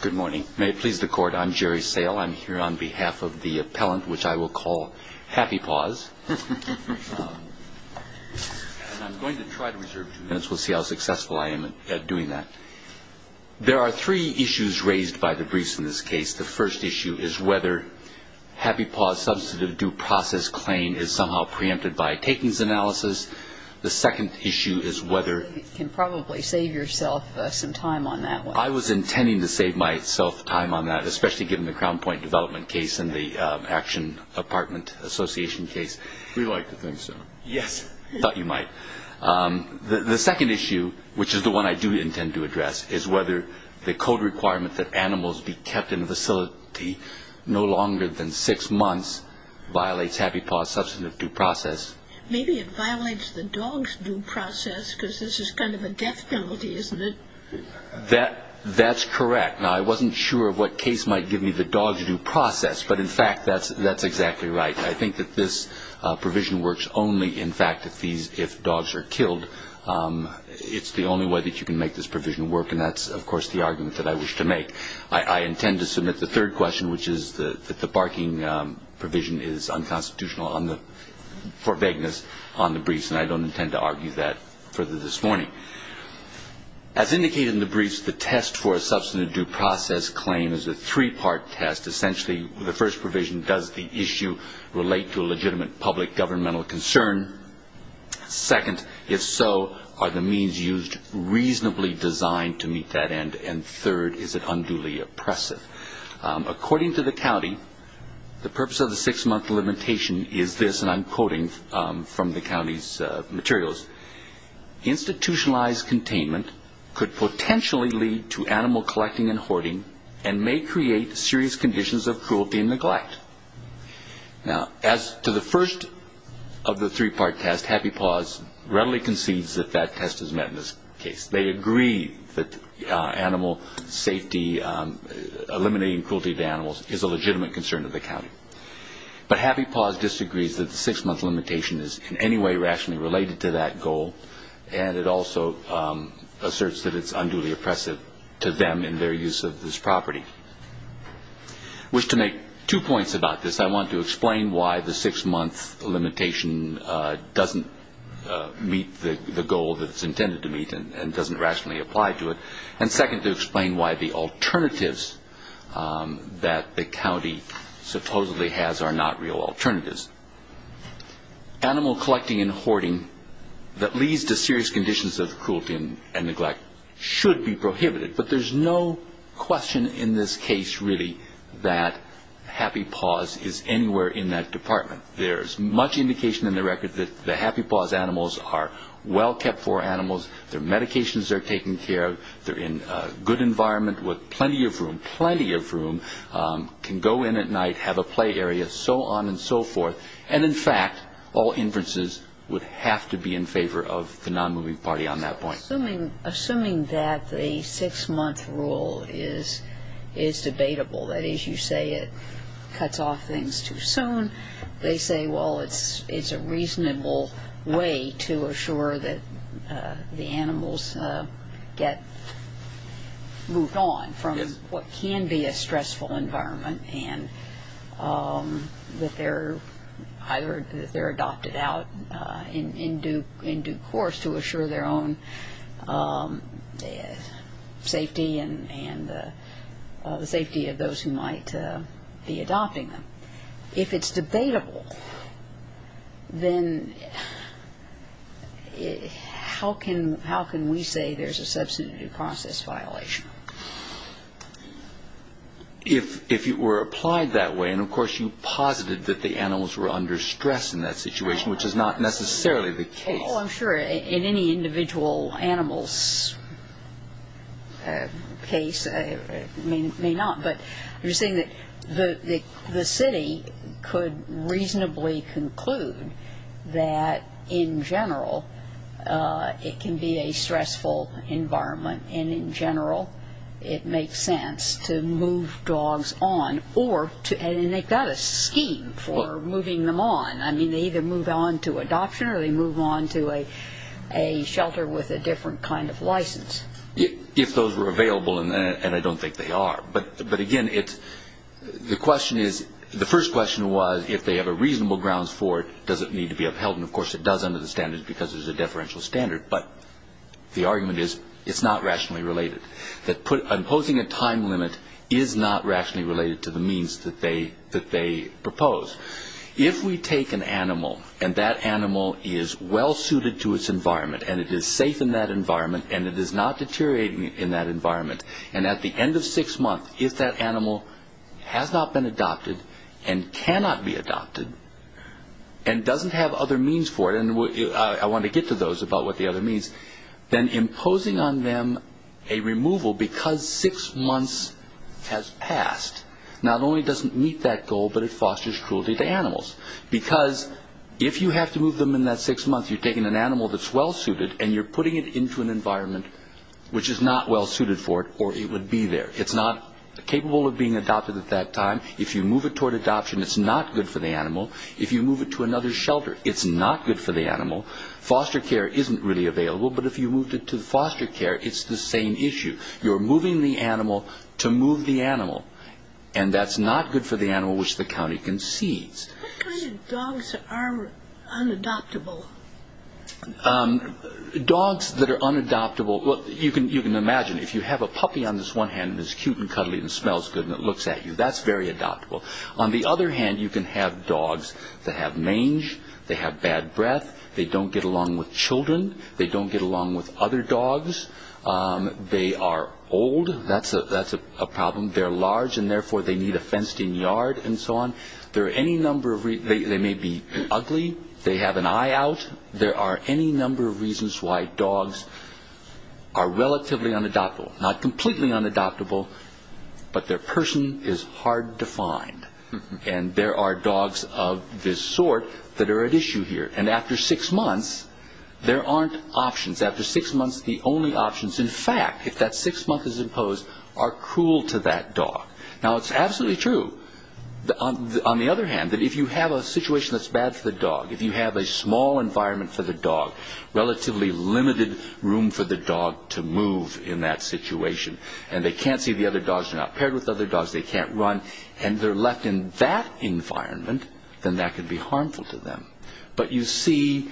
Good morning. May it please the court, I'm Jerry Sale. I'm here on behalf of the appellant, which I will call Happy Paws. And I'm going to try to reserve two minutes. We'll see how successful I am at doing that. There are three issues raised by the briefs in this case. The first issue is whether Happy Paws' substantive due process claim is somehow preempted by a takings analysis. The second issue is whether You can probably save yourself some time on that one. I was intending to save myself time on that, especially given the Crown Point development case and the Action Apartment Association case. We like to think so. Yes. I thought you might. The second issue, which is the one I do intend to address, is whether the code requirement that animals be kept in a facility no longer than six months violates Happy Paws' substantive due process. Maybe it violates the dog's due process because this is kind of a death penalty, isn't it? That's correct. Now, I wasn't sure of what case might give me the dog's due process, but, in fact, that's exactly right. I think that this provision works only, in fact, if dogs are killed. It's the only way that you can make this provision work, and that's, of course, the argument that I wish to make. I intend to submit the third question, which is that the barking provision is unconstitutional for vagueness on the briefs, and I don't intend to argue that further this morning. As indicated in the briefs, the test for a substantive due process claim is a three-part test. Essentially, the first provision, does the issue relate to a legitimate public governmental concern? Second, if so, are the means used reasonably designed to meet that end? And third, is it unduly oppressive? According to the county, the purpose of the six-month limitation is this, and I'm quoting from the county's materials, institutionalized containment could potentially lead to animal collecting and hoarding and may create serious conditions of cruelty and neglect. Now, as to the first of the three-part test, Happy Paws readily concedes that that test is met in this case. They agree that animal safety, eliminating cruelty to animals, is a legitimate concern of the county. But Happy Paws disagrees that the six-month limitation is in any way rationally related to that goal, and it also asserts that it's unduly oppressive to them in their use of this property. I wish to make two points about this. I want to explain why the six-month limitation doesn't meet the goal that it's intended to meet and doesn't rationally apply to it, and second, to explain why the alternatives that the county supposedly has are not real alternatives. Animal collecting and hoarding that leads to serious conditions of cruelty and neglect should be prohibited, but there's no question in this case, really, that Happy Paws is anywhere in that department. There's much indication in the record that the Happy Paws animals are well kept for animals, their medications are taken care of, they're in a good environment with plenty of room, plenty of room, can go in at night, have a play area, so on and so forth, and in fact, all inferences would have to be in favor of the non-moving party on that point. Assuming that the six-month rule is debatable, that is, you say it cuts off things too soon, they say, well, it's a reasonable way to assure that the animals get moved on from what can be a stressful environment and that they're adopted out in due course to assure their own safety and the safety of those who might be adopting them. If it's debatable, then how can we say there's a substantive process violation? If it were applied that way, and of course you posited that the animals were under stress in that situation, which is not necessarily the case. Well, I'm sure in any individual animal's case, it may not, but you're saying that the city could reasonably conclude that in general it can be a stressful environment and in general it makes sense to move dogs on, and they've got a scheme for moving them on. I mean, they either move on to adoption or they move on to a shelter with a different kind of license. If those were available, and I don't think they are. But again, the first question was if they have a reasonable grounds for it, does it need to be upheld? And of course it does under the standards because there's a deferential standard, but the argument is it's not rationally related, that imposing a time limit is not rationally related to the means that they propose. If we take an animal and that animal is well suited to its environment and it is safe in that environment and it is not deteriorating in that environment, and at the end of six months, if that animal has not been adopted and cannot be adopted and doesn't have other means for it, and I want to get to those about what the other means, then imposing on them a removal because six months has passed, not only doesn't meet that goal, but it fosters cruelty to animals. Because if you have to move them in that six months, you're taking an animal that's well suited and you're putting it into an environment which is not well suited for it or it would be there. It's not capable of being adopted at that time. If you move it toward adoption, it's not good for the animal. If you move it to another shelter, it's not good for the animal. Foster care isn't really available, but if you moved it to foster care, it's the same issue. You're moving the animal to move the animal, and that's not good for the animal which the county concedes. What kind of dogs are unadoptable? Dogs that are unadoptable, well, you can imagine, if you have a puppy on this one hand that's cute and cuddly and smells good and it looks at you, that's very adoptable. On the other hand, you can have dogs that have mange, they have bad breath, they don't get along with children, they don't get along with other dogs, they are old, that's a problem, they're large and therefore they need a fenced-in yard and so on. They may be ugly, they have an eye out. There are any number of reasons why dogs are relatively unadoptable, not completely unadoptable, but their person is hard to find. And there are dogs of this sort that are at issue here. And after six months, there aren't options. After six months, the only options, in fact, if that six months is imposed, are cruel to that dog. Now, it's absolutely true. On the other hand, if you have a situation that's bad for the dog, if you have a small environment for the dog, relatively limited room for the dog to move in that situation, and they can't see the other dogs, they're not paired with other dogs, they can't run, and they're left in that environment, then that can be harmful to them. But you see,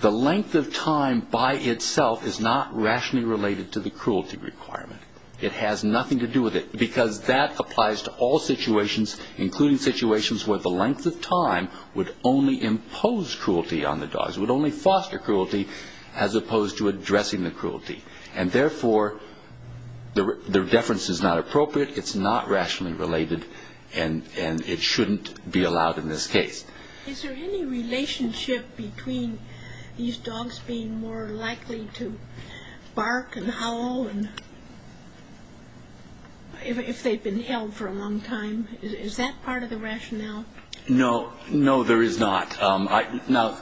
the length of time by itself is not rationally related to the cruelty requirement. It has nothing to do with it, because that applies to all situations, including situations where the length of time would only impose cruelty on the dogs, would only foster cruelty, as opposed to addressing the cruelty. And therefore, their deference is not appropriate, it's not rationally related, and it shouldn't be allowed in this case. Is there any relationship between these dogs being more likely to bark and howl if they've been held for a long time? Is that part of the rationale? No, no, there is not. Now,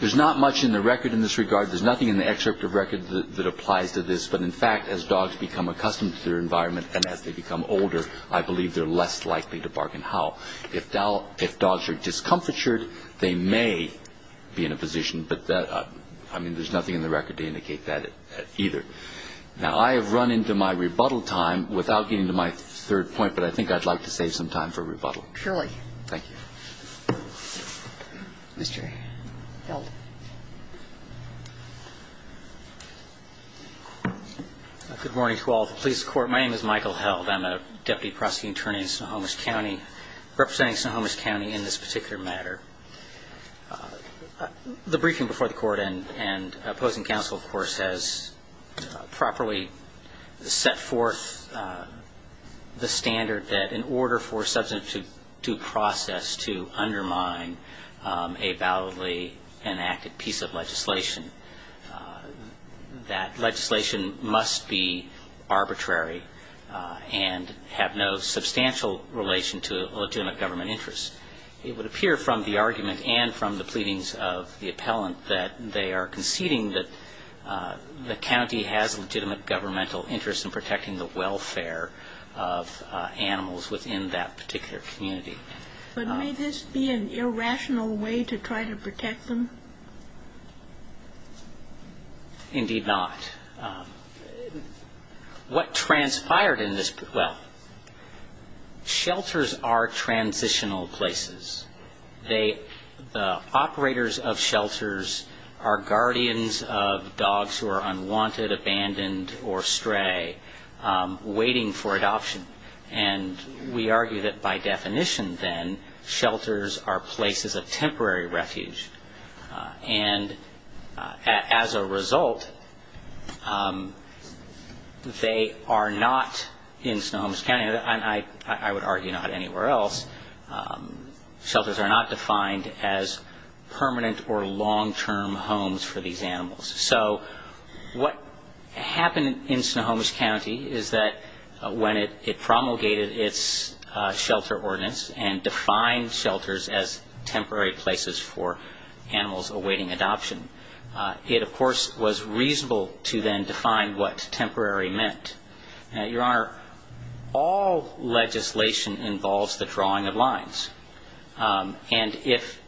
there's not much in the record in this regard. There's nothing in the excerpt of record that applies to this. But in fact, as dogs become accustomed to their environment and as they become older, I believe they're less likely to bark and howl. If dogs are discomfitured, they may be in a position. But, I mean, there's nothing in the record to indicate that either. Now, I have run into my rebuttal time without getting to my third point, but I think I'd like to save some time for rebuttal. Surely. Thank you. Mr. Held. Good morning to all of the police court. My name is Michael Held. I'm a Deputy Prosecuting Attorney in Snohomish County, representing Snohomish County in this particular matter. The briefing before the court and opposing counsel, of course, has properly set forth the standard that in order for a substantive due process to undermine a validly enacted piece of legislation, that legislation must be arbitrary and have no substantial relation to legitimate government interest. It would appear from the argument and from the pleadings of the appellant that they are conceding that the county has legitimate governmental interest in protecting the welfare of animals within that particular community. But may this be an irrational way to try to protect them? Indeed not. What transpired in this, well, shelters are transitional places. The operators of shelters are guardians of dogs who are unwanted, abandoned, or stray, waiting for adoption. And we argue that by definition, then, shelters are places of temporary refuge. And as a result, they are not in Snohomish County, and I would argue not anywhere else, shelters are not defined as permanent or long-term homes for these animals. So what happened in Snohomish County is that when it promulgated its shelter ordinance and defined shelters as temporary places for animals awaiting adoption, it, of course, was reasonable to then define what temporary meant. Now, Your Honor, all legislation involves the drawing of lines. And if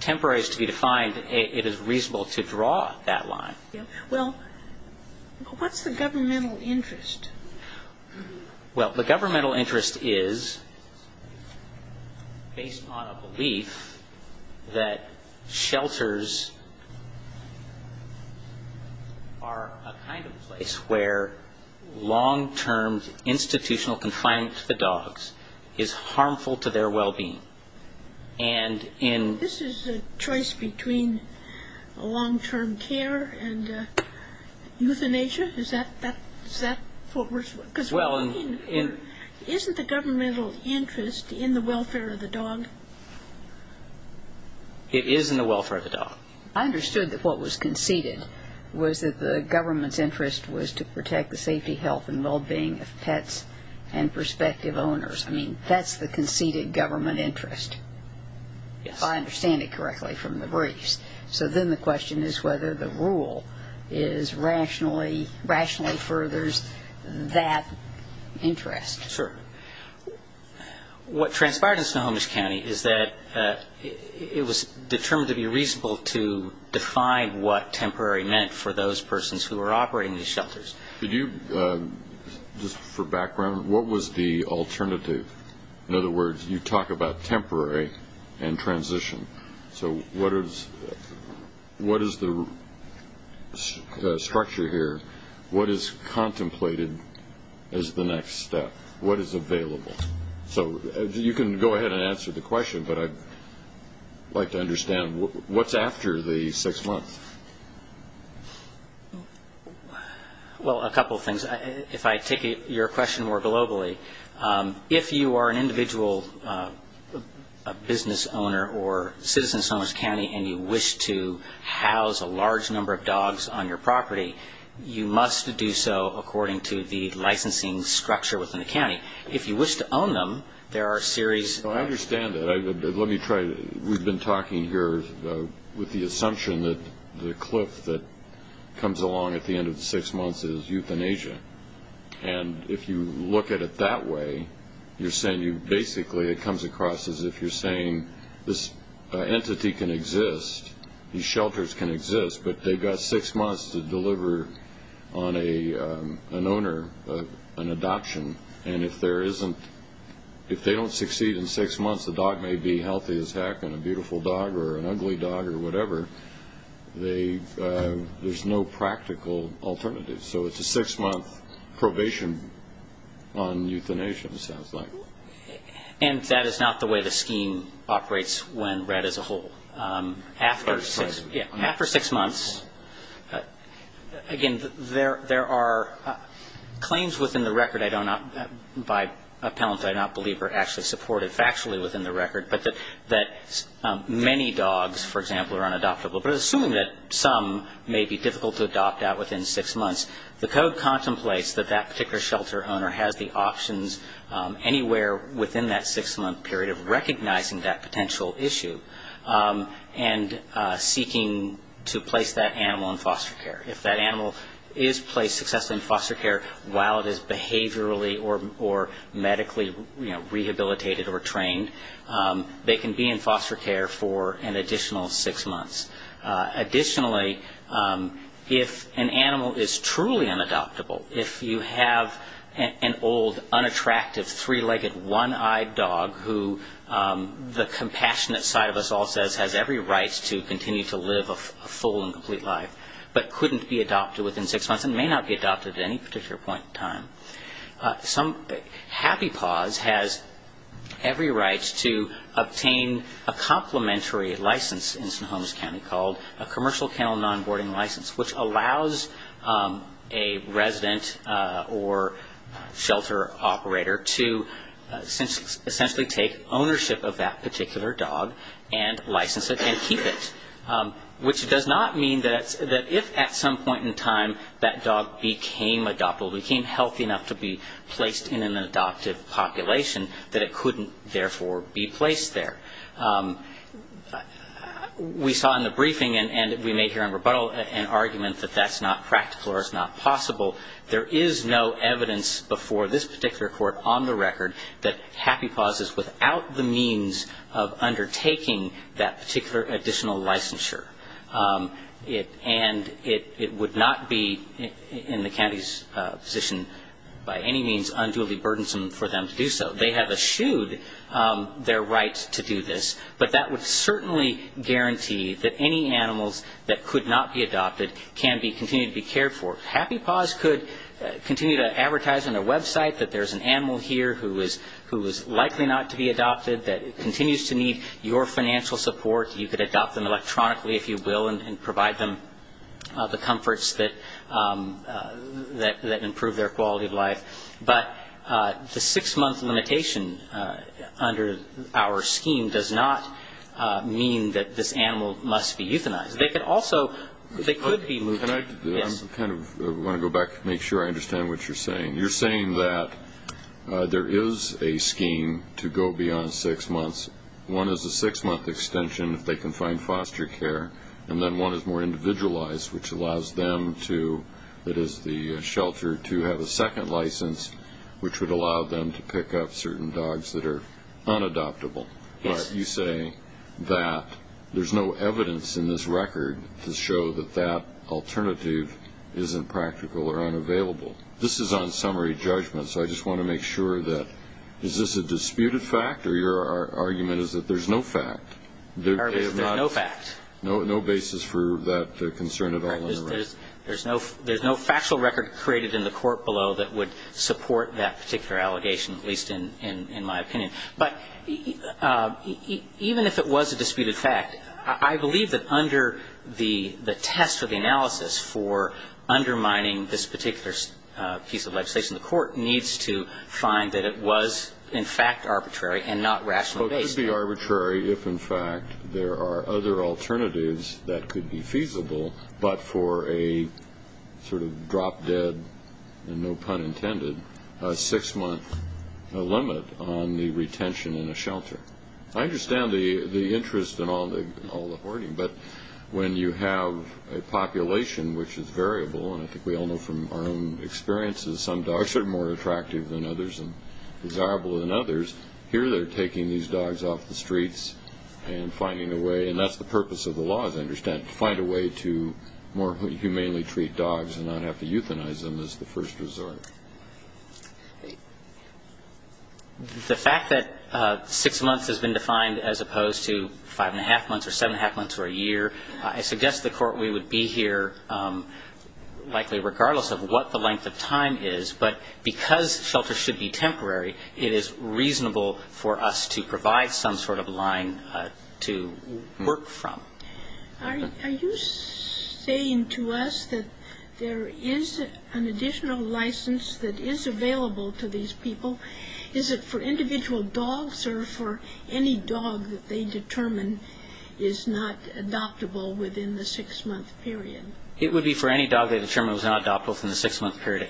temporary is to be defined, it is reasonable to draw that line. Well, what's the governmental interest? Well, the governmental interest is based on a belief that shelters are a kind of place where long-term institutional confinement to the dogs is harmful to their well-being. This is a choice between long-term care and euthanasia? Is that what we're talking about? Isn't the governmental interest in the welfare of the dog? It is in the welfare of the dog. I understood that what was conceded was that the government's interest was to protect the safety, health, and well-being of pets and prospective owners. I mean, that's the conceded government interest. Yes. If I understand it correctly from the briefs. So then the question is whether the rule rationally furthers that interest. Sure. What transpired in Snohomish County is that it was determined to be reasonable to define what temporary meant for those persons who were operating these shelters. Could you, just for background, what was the alternative? In other words, you talk about temporary and transition. So what is the structure here? What is contemplated as the next step? What is available? So you can go ahead and answer the question, but I'd like to understand what's after the six months? Well, a couple of things. If I take your question more globally, if you are an individual business owner or citizen of Snohomish County and you wish to house a large number of dogs on your property, you must do so according to the licensing structure within the county. If you wish to own them, there are a series. I understand that. Let me try. We've been talking here with the assumption that the cliff that comes along at the end of the six months is euthanasia. And if you look at it that way, you're saying you basically, it comes across as if you're saying this entity can exist, these shelters can exist, but they've got six months to deliver on an owner an adoption. And if they don't succeed in six months, the dog may be healthy as heck and a beautiful dog or an ugly dog or whatever. There's no practical alternative. So it's a six-month probation on euthanasia, it sounds like. And that is not the way the scheme operates when read as a whole. After six months, again, there are claims within the record I don't know, by appellants I do not believe are actually supported factually within the record, but that many dogs, for example, are unadoptable. But assuming that some may be difficult to adopt out within six months, the code contemplates that that particular shelter owner has the options anywhere within that six-month period of recognizing that potential issue and seeking to place that animal in foster care. If that animal is placed successfully in foster care while it is behaviorally or medically rehabilitated or trained, they can be in foster care for an additional six months. Additionally, if an animal is truly unadoptable, if you have an old, unattractive, three-legged, one-eyed dog who the compassionate side of us all says has every right to continue to live a full and complete life but couldn't be adopted within six months and may not be adopted at any particular point in time, Happy Paws has every right to obtain a complementary license in St. Holmes County called a commercial kennel nonboarding license, which allows a resident or shelter operator to essentially take ownership of that particular dog and license it and keep it, which does not mean that if at some point in time that dog became adoptable, became healthy enough to be placed in an adoptive population, that it couldn't therefore be placed there. We saw in the briefing, and we made here in rebuttal, an argument that that's not practical or it's not possible. There is no evidence before this particular court on the record that Happy Paws is without the means of undertaking that particular additional licensure. And it would not be in the county's position by any means unduly burdensome for them to do so. They have eschewed their right to do this, but that would certainly guarantee that any animals that could not be adopted can continue to be cared for. Happy Paws could continue to advertise on their website that there's an animal here who is likely not to be adopted, that it continues to need your financial support. You could adopt them electronically, if you will, and provide them the comforts that improve their quality of life. But the six-month limitation under our scheme does not mean that this animal must be euthanized. They could also be moved. I want to go back and make sure I understand what you're saying. You're saying that there is a scheme to go beyond six months. One is a six-month extension if they can find foster care, and then one is more individualized, which allows them to, that is the shelter, to have a second license, which would allow them to pick up certain dogs that are unadoptable. Yes. You say that there's no evidence in this record to show that that alternative isn't practical or unavailable. This is on summary judgment, so I just want to make sure that, is this a disputed fact, or your argument is that there's no fact? There's no fact. No basis for that concern at all? There's no factual record created in the court below that would support that particular allegation, at least in my opinion. But even if it was a disputed fact, I believe that under the test or the analysis for undermining this particular piece of legislation, the court needs to find that it was, in fact, arbitrary and not rationally based. It could be arbitrary if, in fact, there are other alternatives that could be feasible, but for a sort of drop-dead, no pun intended, six-month limit on the retention in a shelter. I understand the interest in all the hoarding, but when you have a population which is variable, and I think we all know from our own experiences some dogs are more attractive than others and desirable than others, here they're taking these dogs off the streets and finding a way, and that's the purpose of the law, as I understand it, to find a way to more humanely treat dogs and not have to euthanize them as the first resort. The fact that six months has been defined as opposed to five-and-a-half months or seven-and-a-half months or a year, I suggest to the court we would be here likely regardless of what the length of time is, but because shelters should be temporary, it is reasonable for us to provide some sort of line to work from. Are you saying to us that there is an additional license that is available to these people? Is it for individual dogs or for any dog that they determine is not adoptable within the six-month period? It would be for any dog they determine was not adoptable within the six-month period.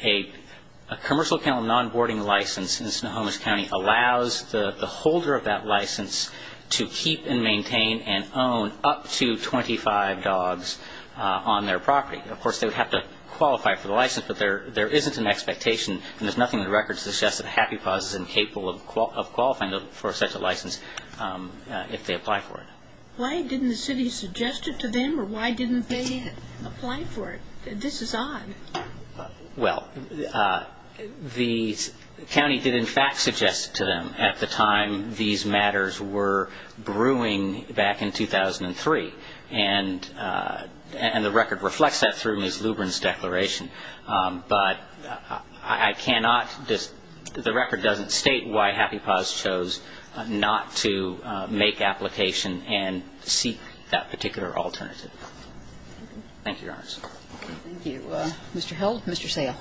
A commercial kennel nonboarding license in Snohomish County allows the holder of that license to keep and maintain and own up to 25 dogs on their property. Of course, they would have to qualify for the license, but there isn't an expectation, and there's nothing in the records that suggests that a happy pause is incapable of qualifying for such a license if they apply for it. Why didn't the city suggest it to them, or why didn't they apply for it? This is odd. Well, the county did in fact suggest it to them at the time these matters were brewing back in 2003, and the record reflects that through Ms. Lubrin's declaration. But I cannot, the record doesn't state why happy pause chose not to make application and seek that particular alternative. Thank you, Your Honor. Thank you. Mr. Held? Mr. Sale?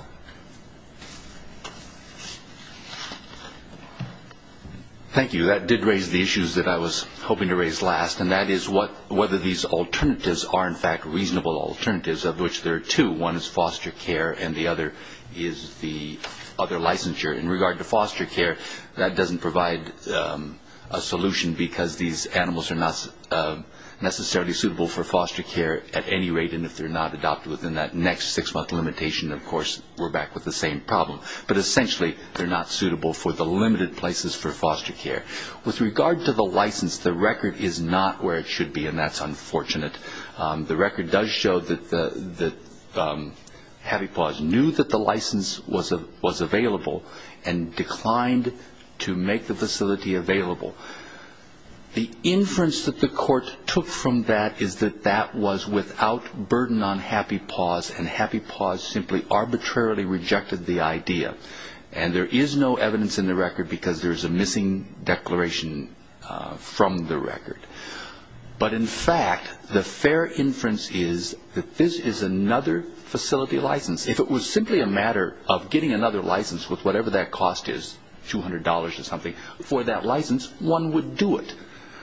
Thank you. That did raise the issues that I was hoping to raise last, and that is whether these alternatives are in fact reasonable alternatives, of which there are two. One is foster care, and the other is the other licensure. In regard to foster care, that doesn't provide a solution because these animals are not necessarily suitable for foster care at any rate, and if they're not adopted within that next six-month limitation, of course, we're back with the same problem. But essentially, they're not suitable for the limited places for foster care. With regard to the license, the record is not where it should be, and that's unfortunate. The record does show that happy pause knew that the license was available and declined to make the facility available. The inference that the court took from that is that that was without burden on happy pause, and happy pause simply arbitrarily rejected the idea, and there is no evidence in the record because there is a missing declaration from the record. But in fact, the fair inference is that this is another facility license. If it was simply a matter of getting another license with whatever that cost is, $200 or something, for that license, one would do it.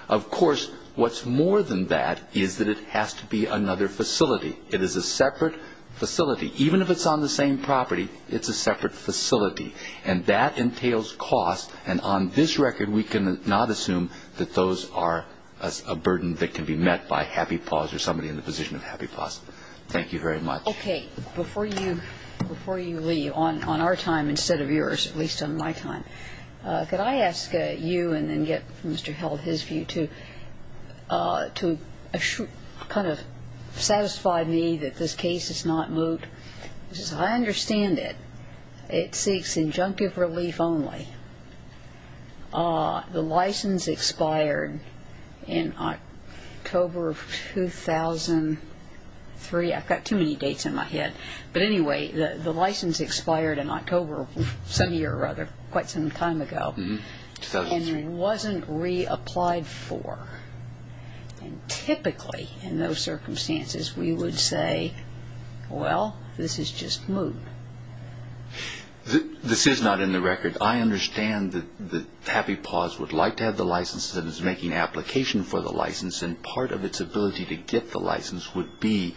Of course, what's more than that is that it has to be another facility. It is a separate facility. Even if it's on the same property, it's a separate facility, and that entails cost, And on this record, we cannot assume that those are a burden that can be met by happy pause or somebody in the position of happy pause. Thank you very much. Okay. Before you leave, on our time instead of yours, at least on my time, could I ask you and then get Mr. Held his view to kind of satisfy me that this case is not moot? As I understand it, it seeks injunctive relief only. The license expired in October of 2003. I've got too many dates in my head. But anyway, the license expired in October of some year or other, quite some time ago. And it wasn't reapplied for. And typically, in those circumstances, we would say, well, this is just moot. This is not in the record. I understand that happy pause would like to have the license that is making application for the license, and part of its ability to get the license would be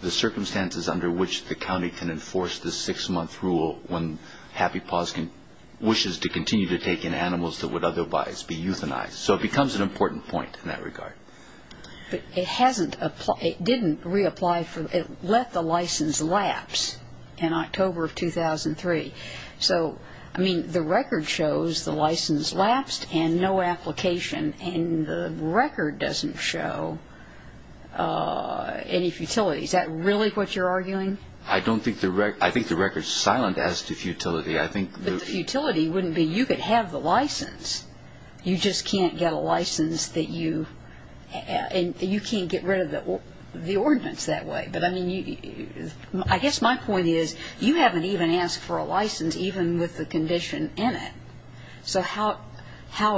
the circumstances under which the county can enforce this six-month rule when happy pause wishes to continue to take in animals that would otherwise be euthanized. So it becomes an important point in that regard. But it didn't reapply for. It let the license lapse in October of 2003. So, I mean, the record shows the license lapsed and no application, and the record doesn't show any futility. Is that really what you're arguing? I think the record is silent as to futility. But the futility wouldn't be you could have the license. You just can't get a license that you can't get rid of the ordinance that way. But, I mean, I guess my point is you haven't even asked for a license, even with the condition in it. So how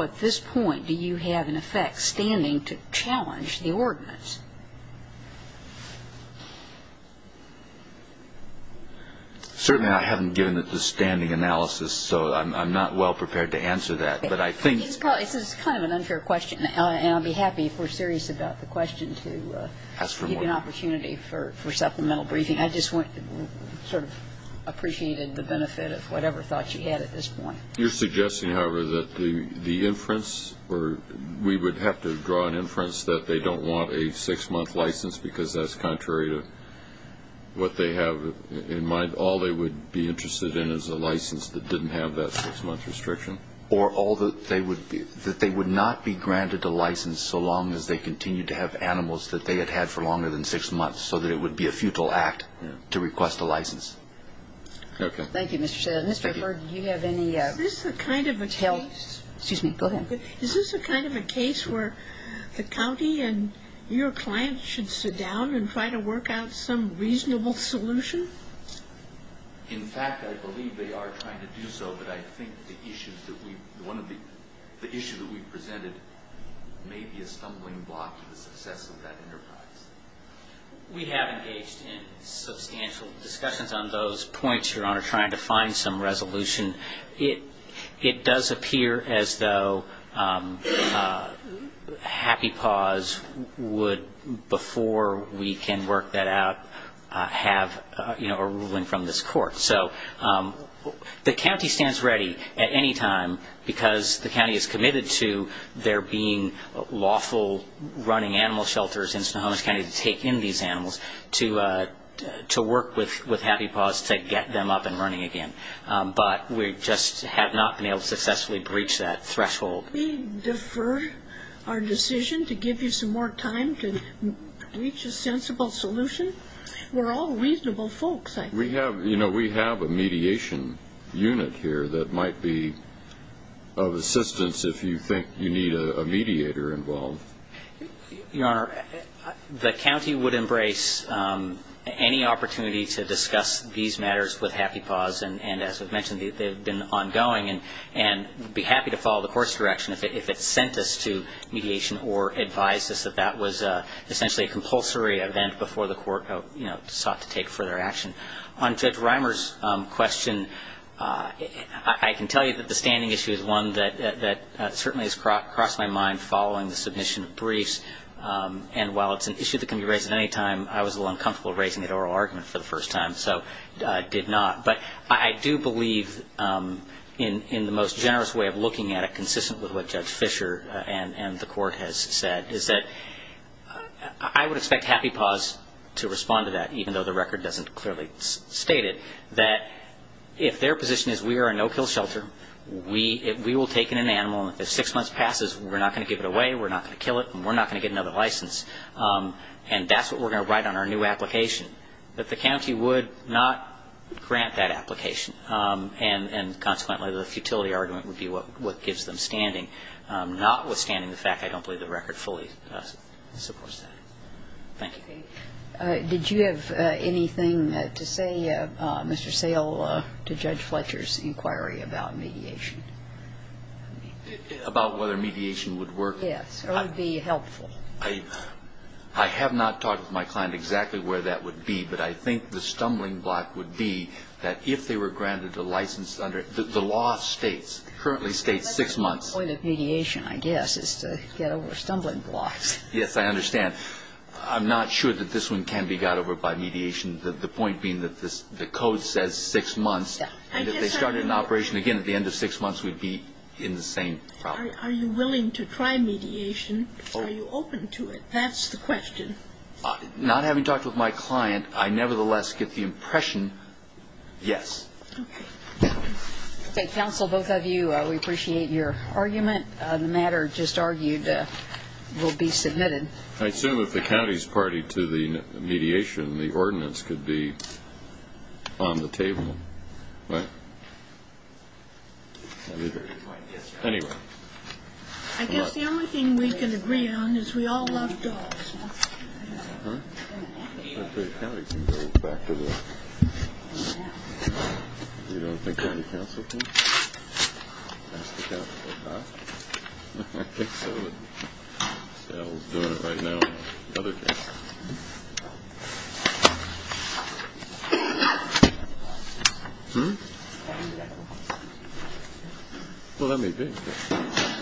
at this point do you have, in effect, standing to challenge the ordinance? Certainly I haven't given it the standing analysis, so I'm not well prepared to answer that. It's kind of an unfair question, and I'll be happy, if we're serious about the question, to give you an opportunity for supplemental briefing. I just sort of appreciated the benefit of whatever thought you had at this point. You're suggesting, however, that the inference, or we would have to draw an inference that they don't want a six-month license because that's contrary to what they have in mind. All they would be interested in is a license that didn't have that six-month restriction. Or that they would not be granted a license so long as they continued to have animals that they had had for longer than six months, so that it would be a futile act to request a license. Okay. Thank you, Mr. Shedd. Mr. Hurd, do you have any? Is this the kind of a case where the county and your clients should sit down and try to work out some reasonable solution? In fact, I believe they are trying to do so, but I think the issue that we've presented may be a stumbling block to the success of that enterprise. We have engaged in substantial discussions on those points, Your Honor, trying to find some resolution. It does appear as though Happy Paws would, before we can work that out, have a ruling from this court. So the county stands ready at any time, because the county is committed to there being lawful running animal shelters in Snohomish County to take in these animals to work with Happy Paws to get them up and running again. But we just have not been able to successfully breach that threshold. We defer our decision to give you some more time to reach a sensible solution. We're all reasonable folks. We have a mediation unit here that might be of assistance if you think you need a mediator involved. Your Honor, the county would embrace any opportunity to discuss these matters with Happy Paws and, as was mentioned, they've been ongoing and would be happy to follow the court's direction if it sent us to mediation or advised us that that was essentially a compulsory event before the court sought to take further action. On Judge Reimer's question, I can tell you that the standing issue is one that certainly has crossed my mind following the submission of briefs. And while it's an issue that can be raised at any time, I was a little uncomfortable raising it at oral argument for the first time, so I did not. But I do believe in the most generous way of looking at it, consistent with what Judge Fischer and the court has said, is that I would expect Happy Paws to respond to that, even though the record doesn't clearly state it, that if their position is we are a no-kill shelter, we will take in an animal, and if six months passes, we're not going to give it away, we're not going to kill it, and we're not going to get another license. And that's what we're going to write on our new application, that the county would not grant that application. And consequently, the futility argument would be what gives them standing, notwithstanding the fact I don't believe the record fully supports that. Thank you. Did you have anything to say, Mr. Sale, to Judge Fletcher's inquiry about mediation? About whether mediation would work? Yes, or would be helpful. I have not talked with my client exactly where that would be, but I think the stumbling block would be that if they were granted a license under the law states, currently states six months. That's the point of mediation, I guess, is to get over stumbling blocks. Yes, I understand. I'm not sure that this one can be got over by mediation. The point being that the code says six months, and if they started an operation again at the end of six months, we'd be in the same problem. Are you willing to try mediation? Are you open to it? That's the question. Not having talked with my client, I nevertheless get the impression yes. Okay. Counsel, both of you, we appreciate your argument. The matter just argued will be submitted. I assume if the county's party to the mediation, the ordinance could be on the table. Right? Anyway. I guess the only thing we can agree on is we all love dogs. Uh-huh. The county can go back to work. You don't think the county counsel can? Ask the council to go back? I think so. Sal's doing it right now. The other counsel. Hmm? Well, let me think.